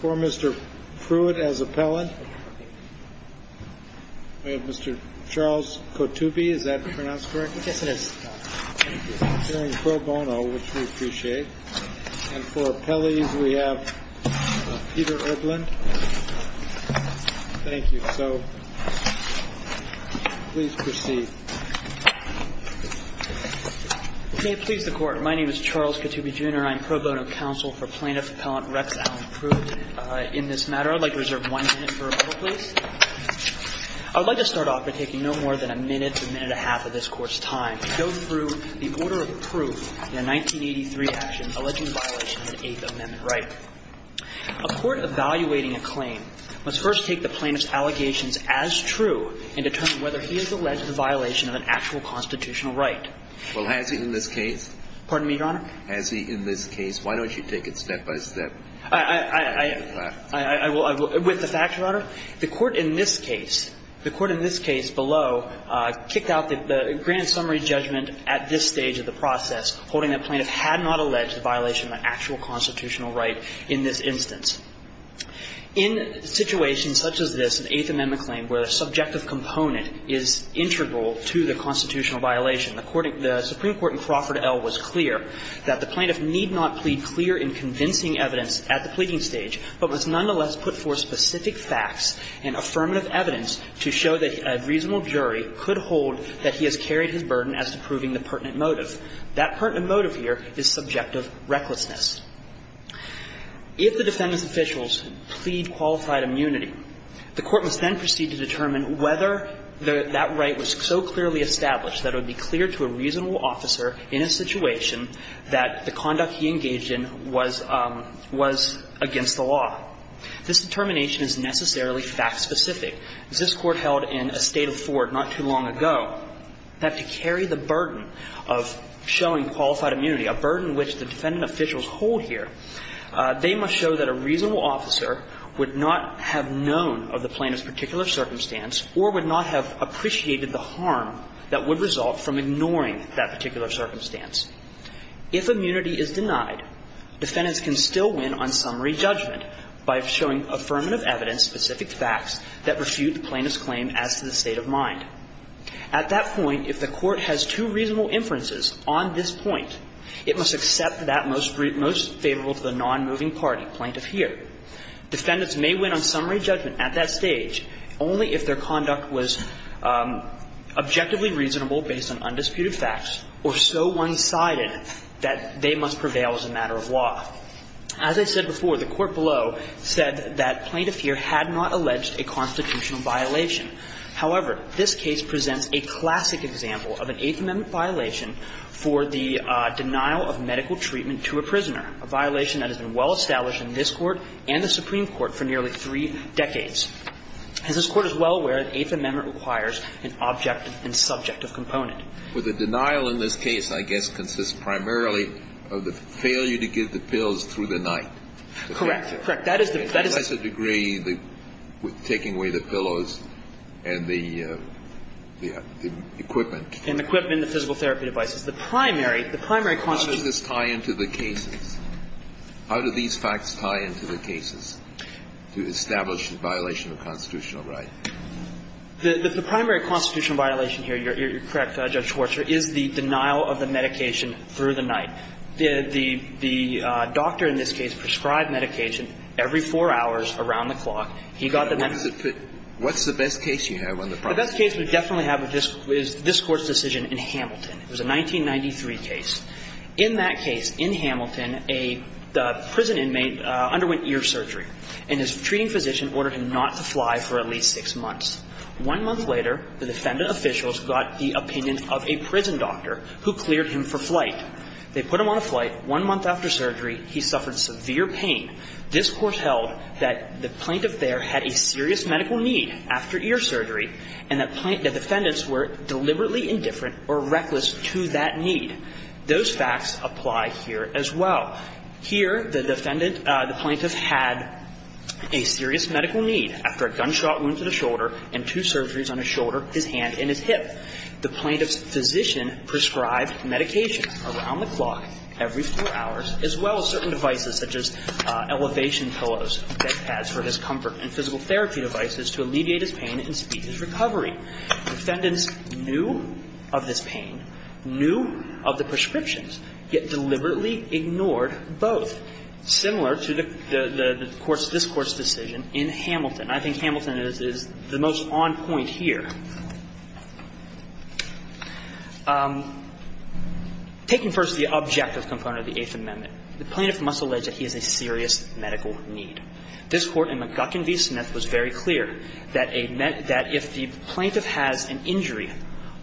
For Mr. Prewitt as appellant, we have Mr. Charles Kotube, is that pronounced correctly? Yes, it is. Hearing pro bono, which we appreciate, and for appellees we have Peter Edlund. Thank you. So please proceed. May it please the Court, my name is Charles Kotube, Jr. I'm pro bono counsel for plaintiff appellant Rex Allen Prewitt. In this matter, I'd like to reserve one minute for approval, please. I'd like to start off by taking no more than a minute to a minute and a half of this Court's time to go through the order of proof in a 1983 action alleging violation of an Eighth Amendment right. A court evaluating a claim must first take the plaintiff's allegations as true and determine whether he has alleged a violation of an actual constitutional right. Well, has he in this case? Pardon me, Your Honor? Has he in this case? Why don't you take it step by step? I will. With the facts, Your Honor? The Court in this case, the Court in this case below, kicked out the grand summary judgment at this stage of the process, holding the plaintiff had not alleged a violation of an actual constitutional right in this instance. In situations such as this, an Eighth Amendment claim where a subjective component is integral to the constitutional violation, the Supreme Court in Crawford L. was clear that the plaintiff need not plead clear in convincing evidence at the pleading stage, but was nonetheless put forth specific facts and affirmative evidence to show that a reasonable jury could hold that he has carried his burden as to proving the pertinent motive. That pertinent motive here is subjective recklessness. If the defendant's officials plead qualified immunity, the Court must then proceed to determine whether that right was so clearly established that it would be clear to a reasonable officer in a situation that the conduct he engaged in was against the law. This determination is necessarily fact-specific. This Court held in a State of Ford not too long ago that to carry the burden of showing qualified immunity, a burden which the defendant officials hold here, they must show that a reasonable officer would not have known of the plaintiff's particular circumstance or would not have appreciated the harm that would result from ignoring that particular circumstance. If immunity is denied, defendants can still win on summary judgment by showing affirmative evidence, specific facts, that refute the plaintiff's claim as to the state of mind. At that point, if the Court has two reasonable inferences on this point, it must accept that most favorable to the nonmoving party, plaintiff here. Defendants may win on summary judgment at that stage only if their conduct was objectively reasonable based on undisputed facts or so one-sided that they must prevail as a matter of law. As I said before, the Court below said that Plaintiff here had not alleged a constitutional violation. However, this case presents a classic example of an Eighth Amendment violation for the denial of medical treatment to a prisoner, a violation that has been well known to the Supreme Court and the Supreme Court for nearly three decades, as this Court is well aware that the Eighth Amendment requires an objective and subjective component. Kennedy. With the denial in this case, I guess, consists primarily of the failure to give the pills through the night. Correct. Correct. That is the degree that taking away the pillows and the equipment. And equipment and the physical therapy devices. The primary, the primary constitutional. How does this tie into the cases? How do these facts tie into the cases to establish a violation of constitutional right? The primary constitutional violation here, you're correct, Judge Schwartz, is the denial of the medication through the night. The doctor in this case prescribed medication every four hours around the clock. He got the medication. What's the best case you have on the front? The best case we definitely have is this Court's decision in Hamilton. It was a 1993 case. In that case, in Hamilton, a prison inmate underwent ear surgery. And his treating physician ordered him not to fly for at least six months. One month later, the defendant officials got the opinion of a prison doctor who cleared him for flight. They put him on a flight. One month after surgery, he suffered severe pain. This Court held that the plaintiff there had a serious medical need after ear surgery and that the defendants were deliberately indifferent or reckless to that need. Those facts apply here as well. Here, the defendant, the plaintiff had a serious medical need after a gunshot wound to the shoulder and two surgeries on his shoulder, his hand and his hip. The plaintiff's physician prescribed medication around the clock every four hours, as well as certain devices such as elevation pillows, bed pads for his comfort, and physical therapy devices to alleviate his pain and speed his recovery. Defendants knew of this pain, knew of the prescriptions, yet deliberately ignored both, similar to the Court's, this Court's decision in Hamilton. I think Hamilton is the most on point here. Taking first the objective component of the Eighth Amendment, the plaintiff must allege that he has a serious medical need. This Court in McGuckin v. Smith was very clear that a meant that if the plaintiff has an injury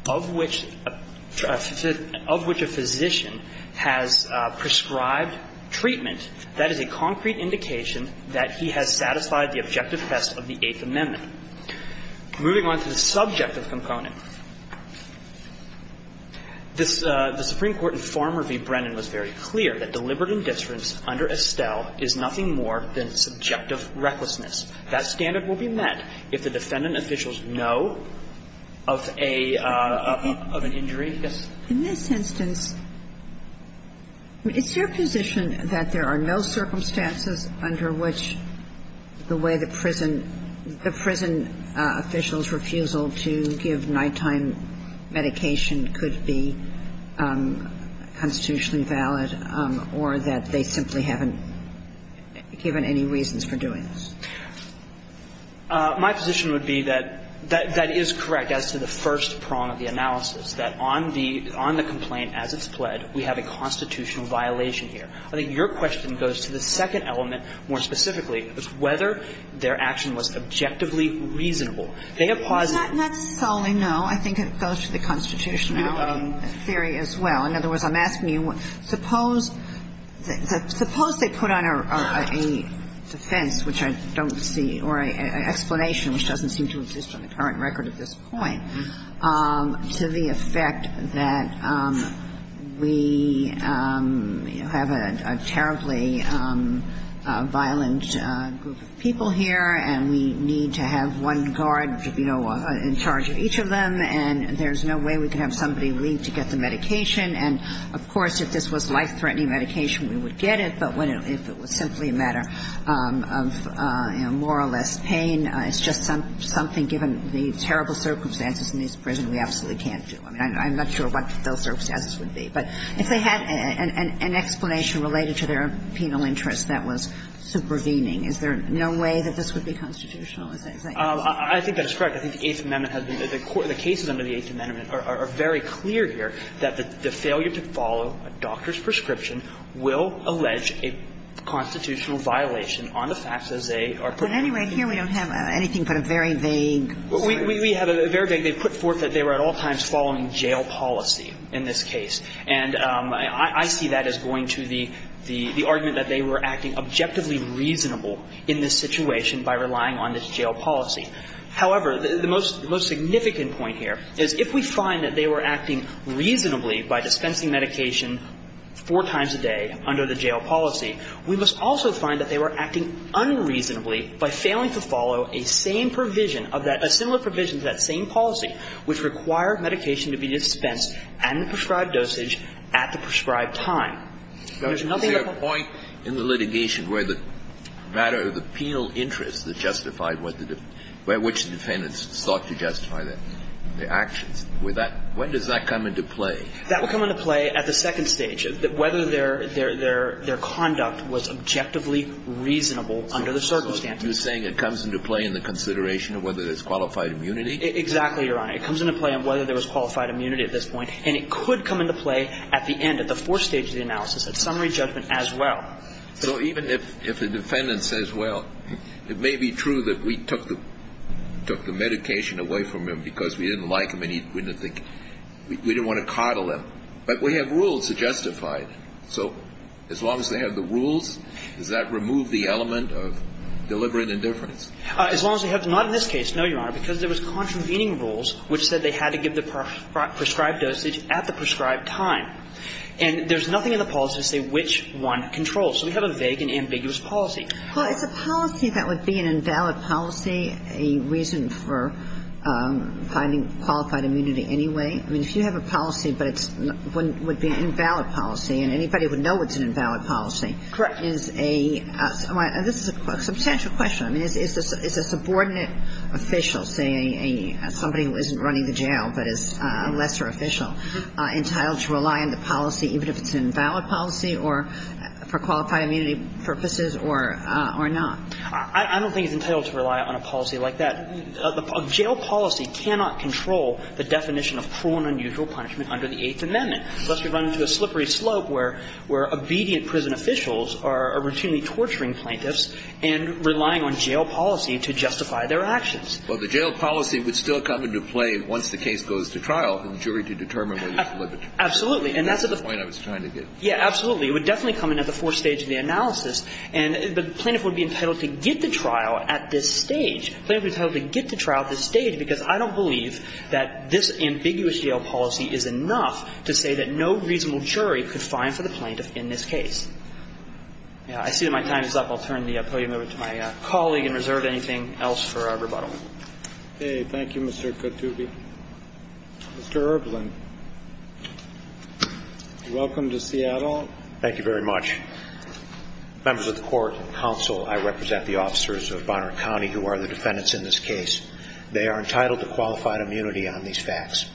of which a physician has prescribed treatment, that is a concrete indication that he has satisfied the objective test of the Eighth Amendment. Moving on to the subjective component, this the Supreme Court in Farmer v. Brennan was very clear that deliberate indifference under Estelle is nothing more than subjective recklessness. That standard will be met if the defendant officials know of a, of an injury. Yes. In this instance, is your position that there are no circumstances under which the way the prison, the prison official's refusal to give nighttime medication could be constitutionally valid, or that they simply haven't given any reasons for doing this? My position would be that that is correct as to the first prong of the analysis, that on the complaint as it's pled, we have a constitutional violation here. I think your question goes to the second element more specifically, which is whether their action was objectively reasonable. In other words, I'm asking you, suppose they put on a defense which I don't see, or an explanation which doesn't seem to exist on the current record at this point, to the effect that we have a terribly violent group of people here, and we need to have one guard, you know, in charge of each of them, and there's no way we can have somebody leave to get the medication, and of course if this was life-threatening medication we would get it, but if it was simply a matter of more or less pain, it's just something given the terrible circumstances in this prison we absolutely can't do. I mean, I'm not sure what those circumstances would be, but if they had an explanation related to their penal interest that was supervening, is there no way that this would be constitutional? I think that is correct. I think the Eighth Amendment has been the court, the cases under the Eighth Amendment are very clear here that the failure to follow a doctor's prescription will allege a constitutional violation on the facts as they are put forth. But anyway, here we don't have anything but a very vague argument. We have a very vague. They put forth that they were at all times following jail policy in this case, and I see that as going to the argument that they were acting objectively reasonable in this situation by relying on this jail policy. However, the most significant point here is if we find that they were acting reasonably by dispensing medication four times a day under the jail policy, we must also find that they were acting unreasonably by failing to follow a sane provision of that – a similar provision to that sane policy which required medication to be dispensed at the prescribed dosage at the prescribed time. There's nothing that the Court can do. Kennedy, was there a point in the litigation where the matter of the penal interest that justified what the – which the defendants sought to justify their actions? Would that – when does that come into play? That would come into play at the second stage, whether their conduct was objectively reasonable under the circumstances. You're saying it comes into play in the consideration of whether there's qualified immunity? Exactly, Your Honor. It comes into play on whether there was qualified immunity at this point, and it could come into play at the end, at the fourth stage of the analysis, at summary judgment as well. So even if the defendant says, well, it may be true that we took the medication away from him because we didn't like him and we didn't think – we didn't want to coddle him, but we have rules to justify it. So as long as they have the rules, does that remove the element of deliberate indifference? As long as they have – not in this case, no, Your Honor, because there was contravening rules which said they had to give the prescribed dosage at the prescribed time. And there's nothing in the policy to say which one controls. So we have a vague and ambiguous policy. Well, it's a policy that would be an invalid policy, a reason for finding qualified immunity anyway. I mean, if you have a policy, but it's – would be an invalid policy, and anybody would know it's an invalid policy. Correct. Is a – this is a substantial question. I mean, is a subordinate official, say, somebody who isn't running the jail but is a lesser official, entitled to rely on the policy even if it's an invalid policy or for qualified immunity purposes or not? I don't think it's entitled to rely on a policy like that. A jail policy cannot control the definition of cruel and unusual punishment under the Eighth Amendment, lest we run into a slippery slope where obedient prison officials are routinely torturing plaintiffs and relying on jail policy to justify their actions. Well, the jail policy would still come into play once the case goes to trial for the jury to determine whether it's limited. Absolutely. And that's the point I was trying to get. Yeah, absolutely. It would definitely come in at the fourth stage of the analysis. And the plaintiff would be entitled to get the trial at this stage. The plaintiff would be entitled to get the trial at this stage because I don't believe that this ambiguous jail policy is enough to say that no reasonable jury could fine for the plaintiff in this case. I see that my time is up. I'll turn the podium over to my colleague and reserve anything else for rebuttal. Okay. Thank you, Mr. Khattoubi. Mr. Erblin, welcome to Seattle. Thank you very much. Members of the court and counsel, I represent the officers of Bonner County who are the defendants in this case. They are entitled to qualified immunity on these facts.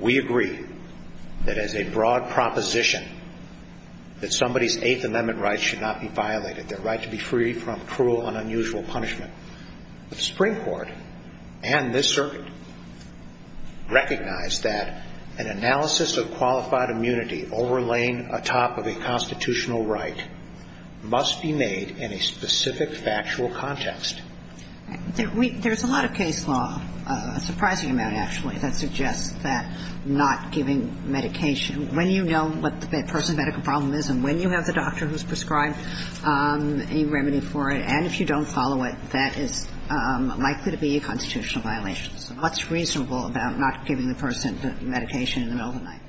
We agree that as a broad proposition, that somebody's Eighth Amendment rights should not be violated, their right to be free from cruel and unusual punishment. The Supreme Court and this circuit recognize that an analysis of qualified immunity overlaid atop of a constitutional right must be made in a specific factual context. There's a lot of case law, a surprising amount, actually, that suggests that not giving medication, when you know what the person's medical problem is and when you have the doctor who's prescribed a remedy for it, and if you don't follow it, that is likely to be a constitutional violation. So what's reasonable about not giving the person medication in the middle of the night?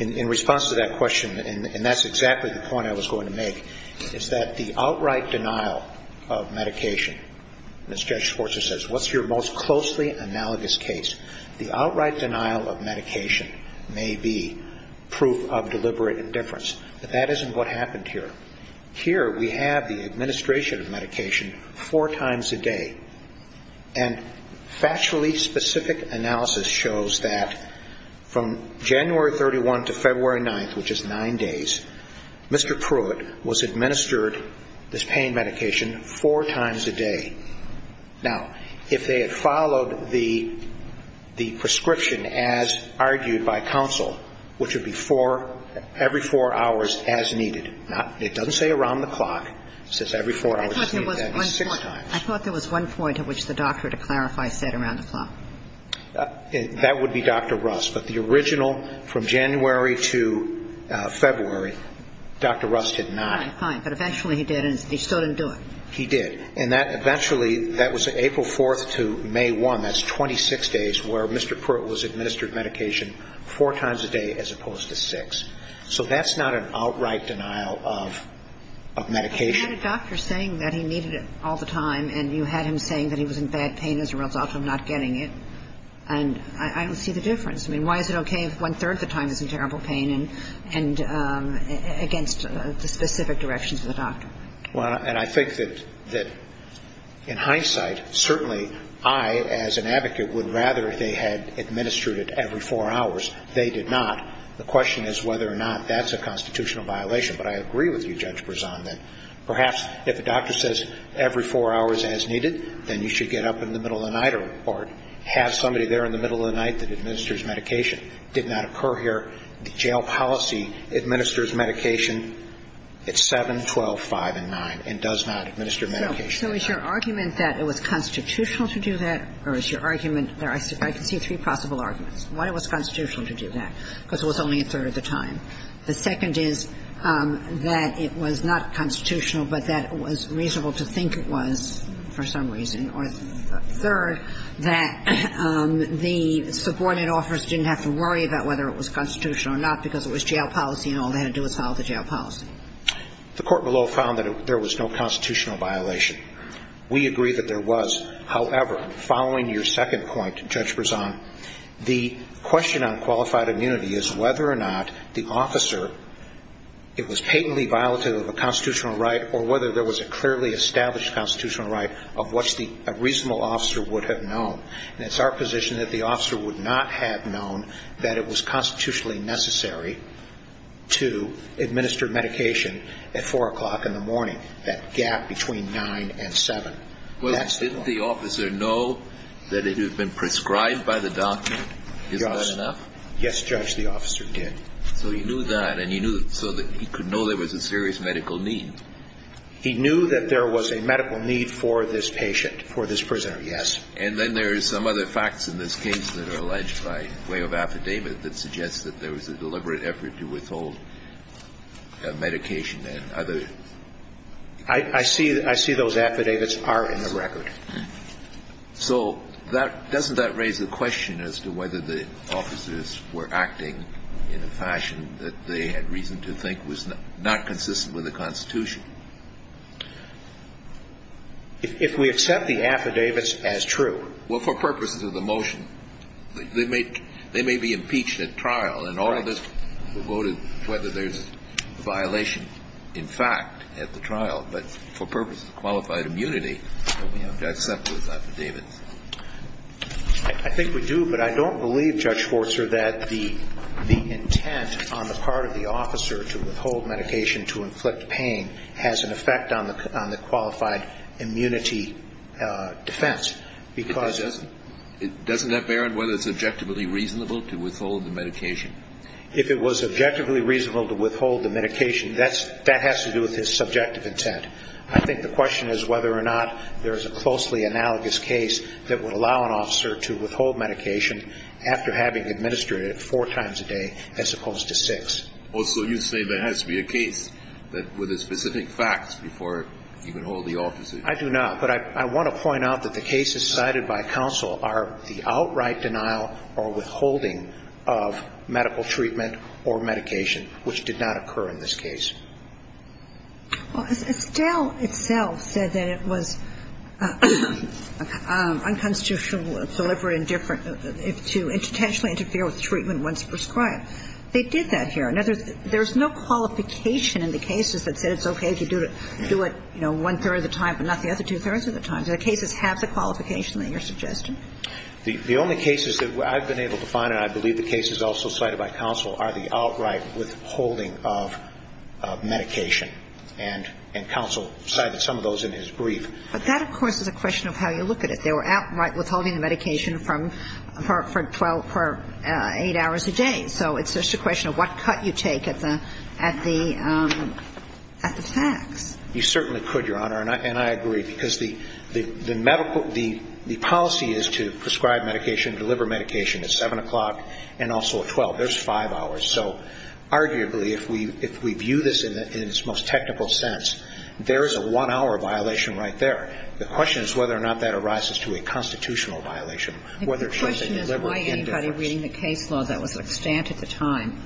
In response to that question, and that's exactly the point I was going to make, is that the outright denial of medication, as Judge Schwarzer says, what's your most closely analogous case, the outright denial of medication may be proof of deliberate indifference, but that isn't what happened here. Here we have the administration of medication four times a day, and factually specific analysis shows that from January 31 to February 9th, which is nine days, Mr. Pruitt was administered this pain medication four times a day. Now, if they had followed the prescription as argued by counsel, which would be four, every four hours as needed, it doesn't say around the clock, it says every four hours as needed, that is six times. I thought there was one point at which the doctor, to clarify, said around the clock. That would be Dr. Russ, but the original, from January to February, Dr. Russ did not. Fine, fine, but eventually he did, and he still didn't do it. He did. And that eventually, that was April 4th to May 1, that's 26 days where Mr. Pruitt was administered the pain medication four times a day as opposed to six. So that's not an outright denial of medication. You had a doctor saying that he needed it all the time, and you had him saying that he was in bad pain as a result of not getting it, and I don't see the difference. I mean, why is it okay if one-third of the time he's in terrible pain and against the specific directions of the doctor? Well, and I think that in hindsight, certainly I, as an advocate, would rather they had administered it every four hours. They did not. The question is whether or not that's a constitutional violation, but I agree with you, Judge Berzon, that perhaps if a doctor says every four hours as needed, then you should get up in the middle of the night or have somebody there in the middle of the night that administers medication. Did not occur here. The jail policy administers medication at 7, 12, 5, and 9, and does not administer medication at 9. So is your argument that it was constitutional to do that or is your argument that I can see three possible arguments. One, it was constitutional to do that because it was only a third of the time. The second is that it was not constitutional, but that it was reasonable to think it was for some reason. Or third, that the subordinate officers didn't have to worry about whether it was constitutional or not because it was jail policy and all they had to do was follow the jail policy. The court below found that there was no constitutional violation. We agree that there was. However, following your second point, Judge Berzon, the question on qualified immunity is whether or not the officer, it was patently violative of a constitutional right or whether there was a clearly established constitutional right of what a reasonable officer would have known. And it's our position that the officer would not have known that it was constitutionally necessary to administer medication at 4 o'clock in the morning, that gap between 9 and 7. Well, didn't the officer know that it had been prescribed by the doctor? Isn't that enough? Yes, Judge, the officer did. So he knew that and he knew so that he could know there was a serious medical need. He knew that there was a medical need for this patient, for this prisoner. Yes. And then there is some other facts in this case that are alleged by way of affidavit that suggests that there was a deliberate effort to withhold medication and other. I see. I see those affidavits are in the record. So that doesn't that raise the question as to whether the officers were acting in a fashion that they had reason to think was not consistent with the Constitution? If we accept the affidavits as true. Well, for purposes of the motion, they may they may be impeached at trial and all of this voted whether there's a violation, in fact, at the trial. But for purposes of qualified immunity, we have to accept those affidavits. I think we do. But I don't believe, Judge Schwartzer, that the the intent on the part of the officer to withhold medication to inflict pain has an effect on the on the qualified immunity defense because it doesn't. That bear on whether it's objectively reasonable to withhold the medication. If it was objectively reasonable to withhold the medication, that's that has to do with his subjective intent. I think the question is whether or not there is a closely analogous case that would allow an officer to withhold medication after having administered it four times a day as opposed to six. Also, you say there has to be a case that with a specific facts before you can hold the officer. I do not. But I want to point out that the cases cited by counsel are the outright denial or withholding of medical treatment or medication, which did not occur in this case. Estelle itself said that it was unconstitutional, deliberate, indifferent to potentially interfere with treatment once prescribed. They did that here. In other words, there's no qualification in the cases that said it's OK to do it, you know, one third of the time, but not the other two thirds of the time. The cases have the qualification that you're suggesting. The only cases that I've been able to find, and I believe the cases also cited by counsel, are the outright withholding of medication. And counsel cited some of those in his brief. But that, of course, is a question of how you look at it. They were outright withholding the medication from for eight hours a day. So it's just a question of what cut you take at the facts. You certainly could, Your Honor, and I agree, because the medical – the policy is to prescribe medication, deliver medication at 7 o'clock and also at 12. There's five hours. So arguably, if we view this in its most technical sense, there is a one-hour violation right there. The question is whether or not that arises to a constitutional violation, whether it should be deliberate, indifferent. Kagan. And the question is why anybody reading the case law that was extant at the time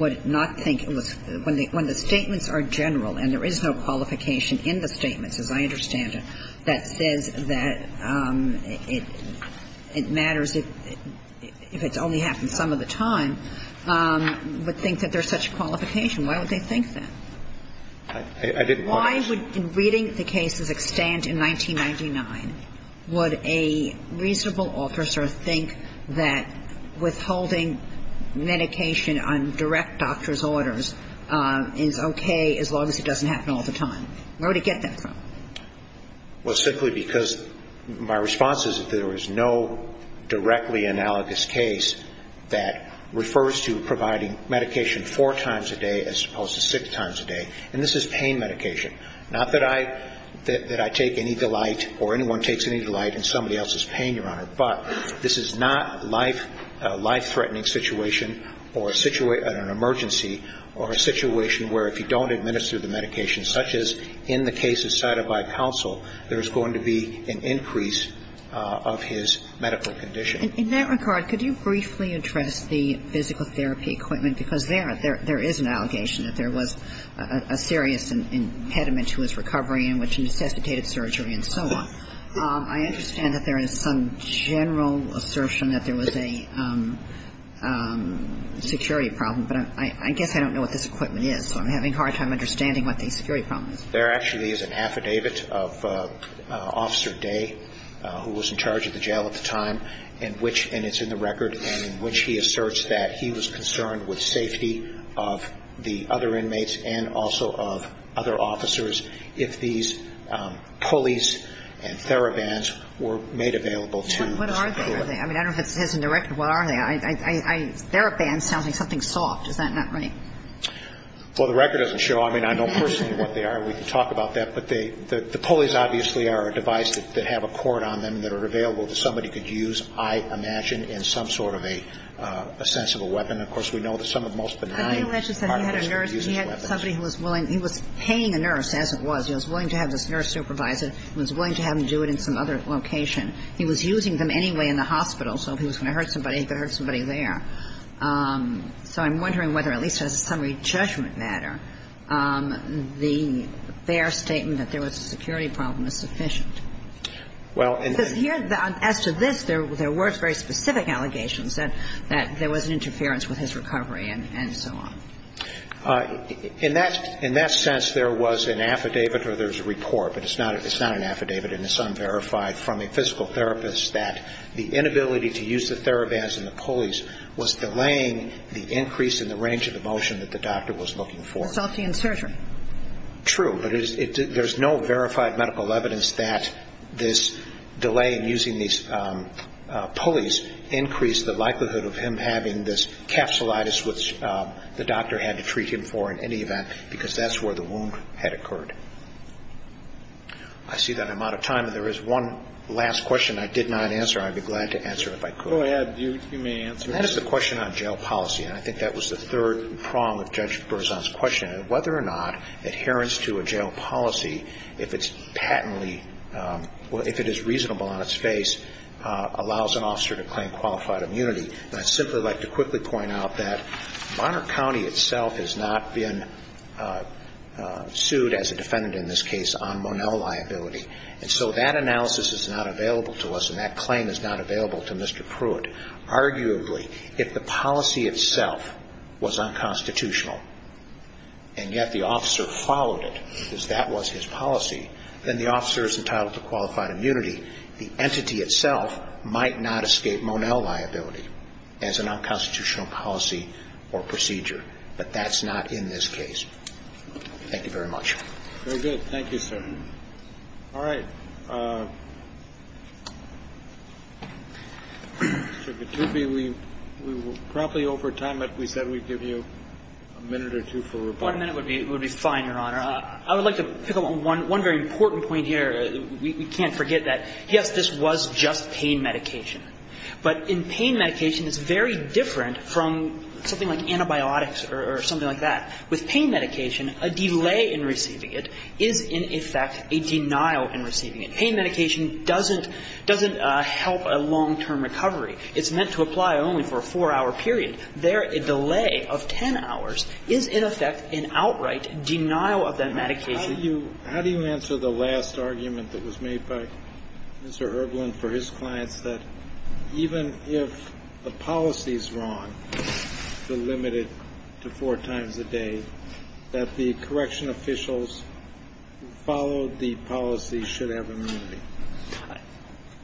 would not think it was – when the statements are general and there is no qualification in the statements, as I understand it, that says that it matters if it's only half and some of the time, would think that there's such a qualification. Why would they think that? I didn't want to. Why would – in reading the case as extant in 1999, would a reasonable officer think that withholding medication on direct doctor's orders is okay as long as it doesn't happen all the time? Where would he get that from? Well, simply because my response is that there is no directly analogous case that refers to providing medication four times a day as opposed to six times a day. And this is pain medication. Not that I – that I take any delight or anyone takes any delight in somebody else's pain, Your Honor. But this is not life – a life-threatening situation or a situation – an emergency or a situation where if you don't administer the medication, such as in the case of Sadovai Counsel, there is going to be an increase of his medical condition. In that regard, could you briefly address the physical therapy equipment? Because there – there is an allegation that there was a serious impediment to his recovery in which he necessitated surgery and so on. I understand that there is some general assertion that there was a security problem. But I guess I don't know what this equipment is, so I'm having a hard time understanding what the security problem is. There actually is an affidavit of Officer Day, who was in charge of the jail at the time, in which – and it's in the record – in which he asserts that he was concerned with safety of the other inmates and also of other officers if these pulleys and therabands were made available to Mr. Cooley. What are they? Are they – I mean, I don't know if it says in the record what are they. I – I – theraband sounds like something soft. Is that not right? Well, the record doesn't show. I mean, I don't personally know what they are. We can talk about that. But they – the pulleys, obviously, are a device that have a cord on them that are available that somebody could use, I imagine, in some sort of a sensible weapon. Of course, we know that some of the most benign part of this would use these weapons. But he alleged that he had a nurse and he had somebody who was willing – he was paying a nurse, as it was. He was willing to have this nurse supervise it. He was willing to have them do it in some other location. He was using them anyway in the hospital, so if he was going to hurt somebody, he could hurt somebody there. So I'm wondering whether, at least as a summary judgment matter, the – their statement that there was a security problem is sufficient. Well, and – Because here, as to this, there were very specific allegations that there was an interference with his recovery and so on. In that – in that sense, there was an affidavit or there's a report, but it's not – it's not an affidavit. And it's unverified from a physical therapist that the inability to use the TheraVans and the pulleys was delaying the increase in the range of the motion that the doctor was looking for. Consulting in surgery. True. But it – there's no verified medical evidence that this delay in using these pulleys increased the likelihood of him having this capsulitis, which the doctor had to treat him for in any event, because that's where the wound had occurred. I see that I'm out of time, and there is one last question I did not answer, and I'd be glad to answer it if I could. Go ahead. You – you may answer it. And that is the question on jail policy, and I think that was the third prong of Judge Berzon's question. And whether or not adherence to a jail policy, if it's patently – well, if it is reasonable on its face, allows an officer to claim qualified immunity. And I'd simply like to quickly point out that Bonner County itself has not been sued, as a defendant in this case, on Monell liability. And so that analysis is not available to us, and that claim is not available to Mr. Pruitt. Arguably, if the policy itself was unconstitutional, and yet the officer followed it, because that was his policy, then the officer is entitled to qualified immunity. The entity itself might not escape Monell liability as an unconstitutional policy or procedure, but that's not in this case. Thank you very much. Very good. Thank you, sir. All right. Mr. Gattubi, we were probably over time, but we said we'd give you a minute or two for rebuttal. One minute would be fine, Your Honor. I would like to pick up on one very important point here. We can't forget that, yes, this was just pain medication. But in pain medication, it's very different from something like antibiotics or something like that. With pain medication, a delay in receiving it is, in effect, a denial in receiving it. Pain medication doesn't help a long-term recovery. It's meant to apply only for a four-hour period. There, a delay of ten hours is, in effect, an outright denial of that medication. How do you answer the last argument that was made by Mr. Erblin for his clients, that even if a policy is wrong, delimited to four times a day, that the correction officials who follow the policy should have immunity?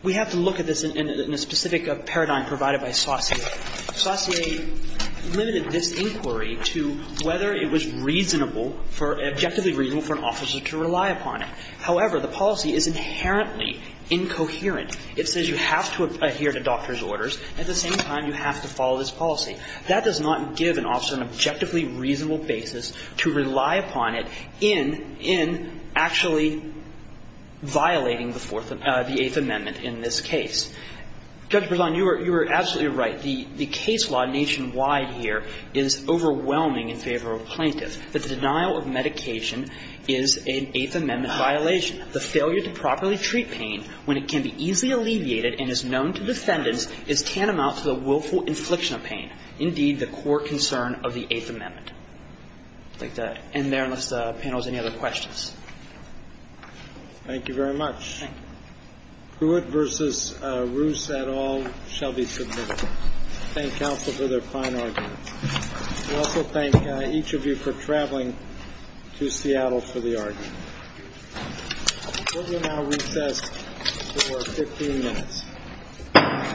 We have to look at this in a specific paradigm provided by Saucier. Saucier limited this inquiry to whether it was reasonable for an officer to rely upon it. However, the policy is inherently incoherent. It says you have to adhere to doctor's orders. At the same time, you have to follow this policy. That does not give an officer an objectively reasonable basis to rely upon it in actually violating the Eighth Amendment in this case. Judge Berzon, you were absolutely right. The case law nationwide here is overwhelming in favor of plaintiffs, that the denial of medication is an Eighth Amendment violation. The failure to properly treat pain when it can be easily alleviated and is known to defendants is tantamount to the willful infliction of pain, indeed, the core concern of the Eighth Amendment. I'd like to end there, unless the panel has any other questions. Thank you very much. Thank you. Pruitt versus Roos et al. shall be submitted. Thank counsel for their fine arguments. We also thank each of you for traveling to Seattle for the argument. We will now recess for 15 minutes.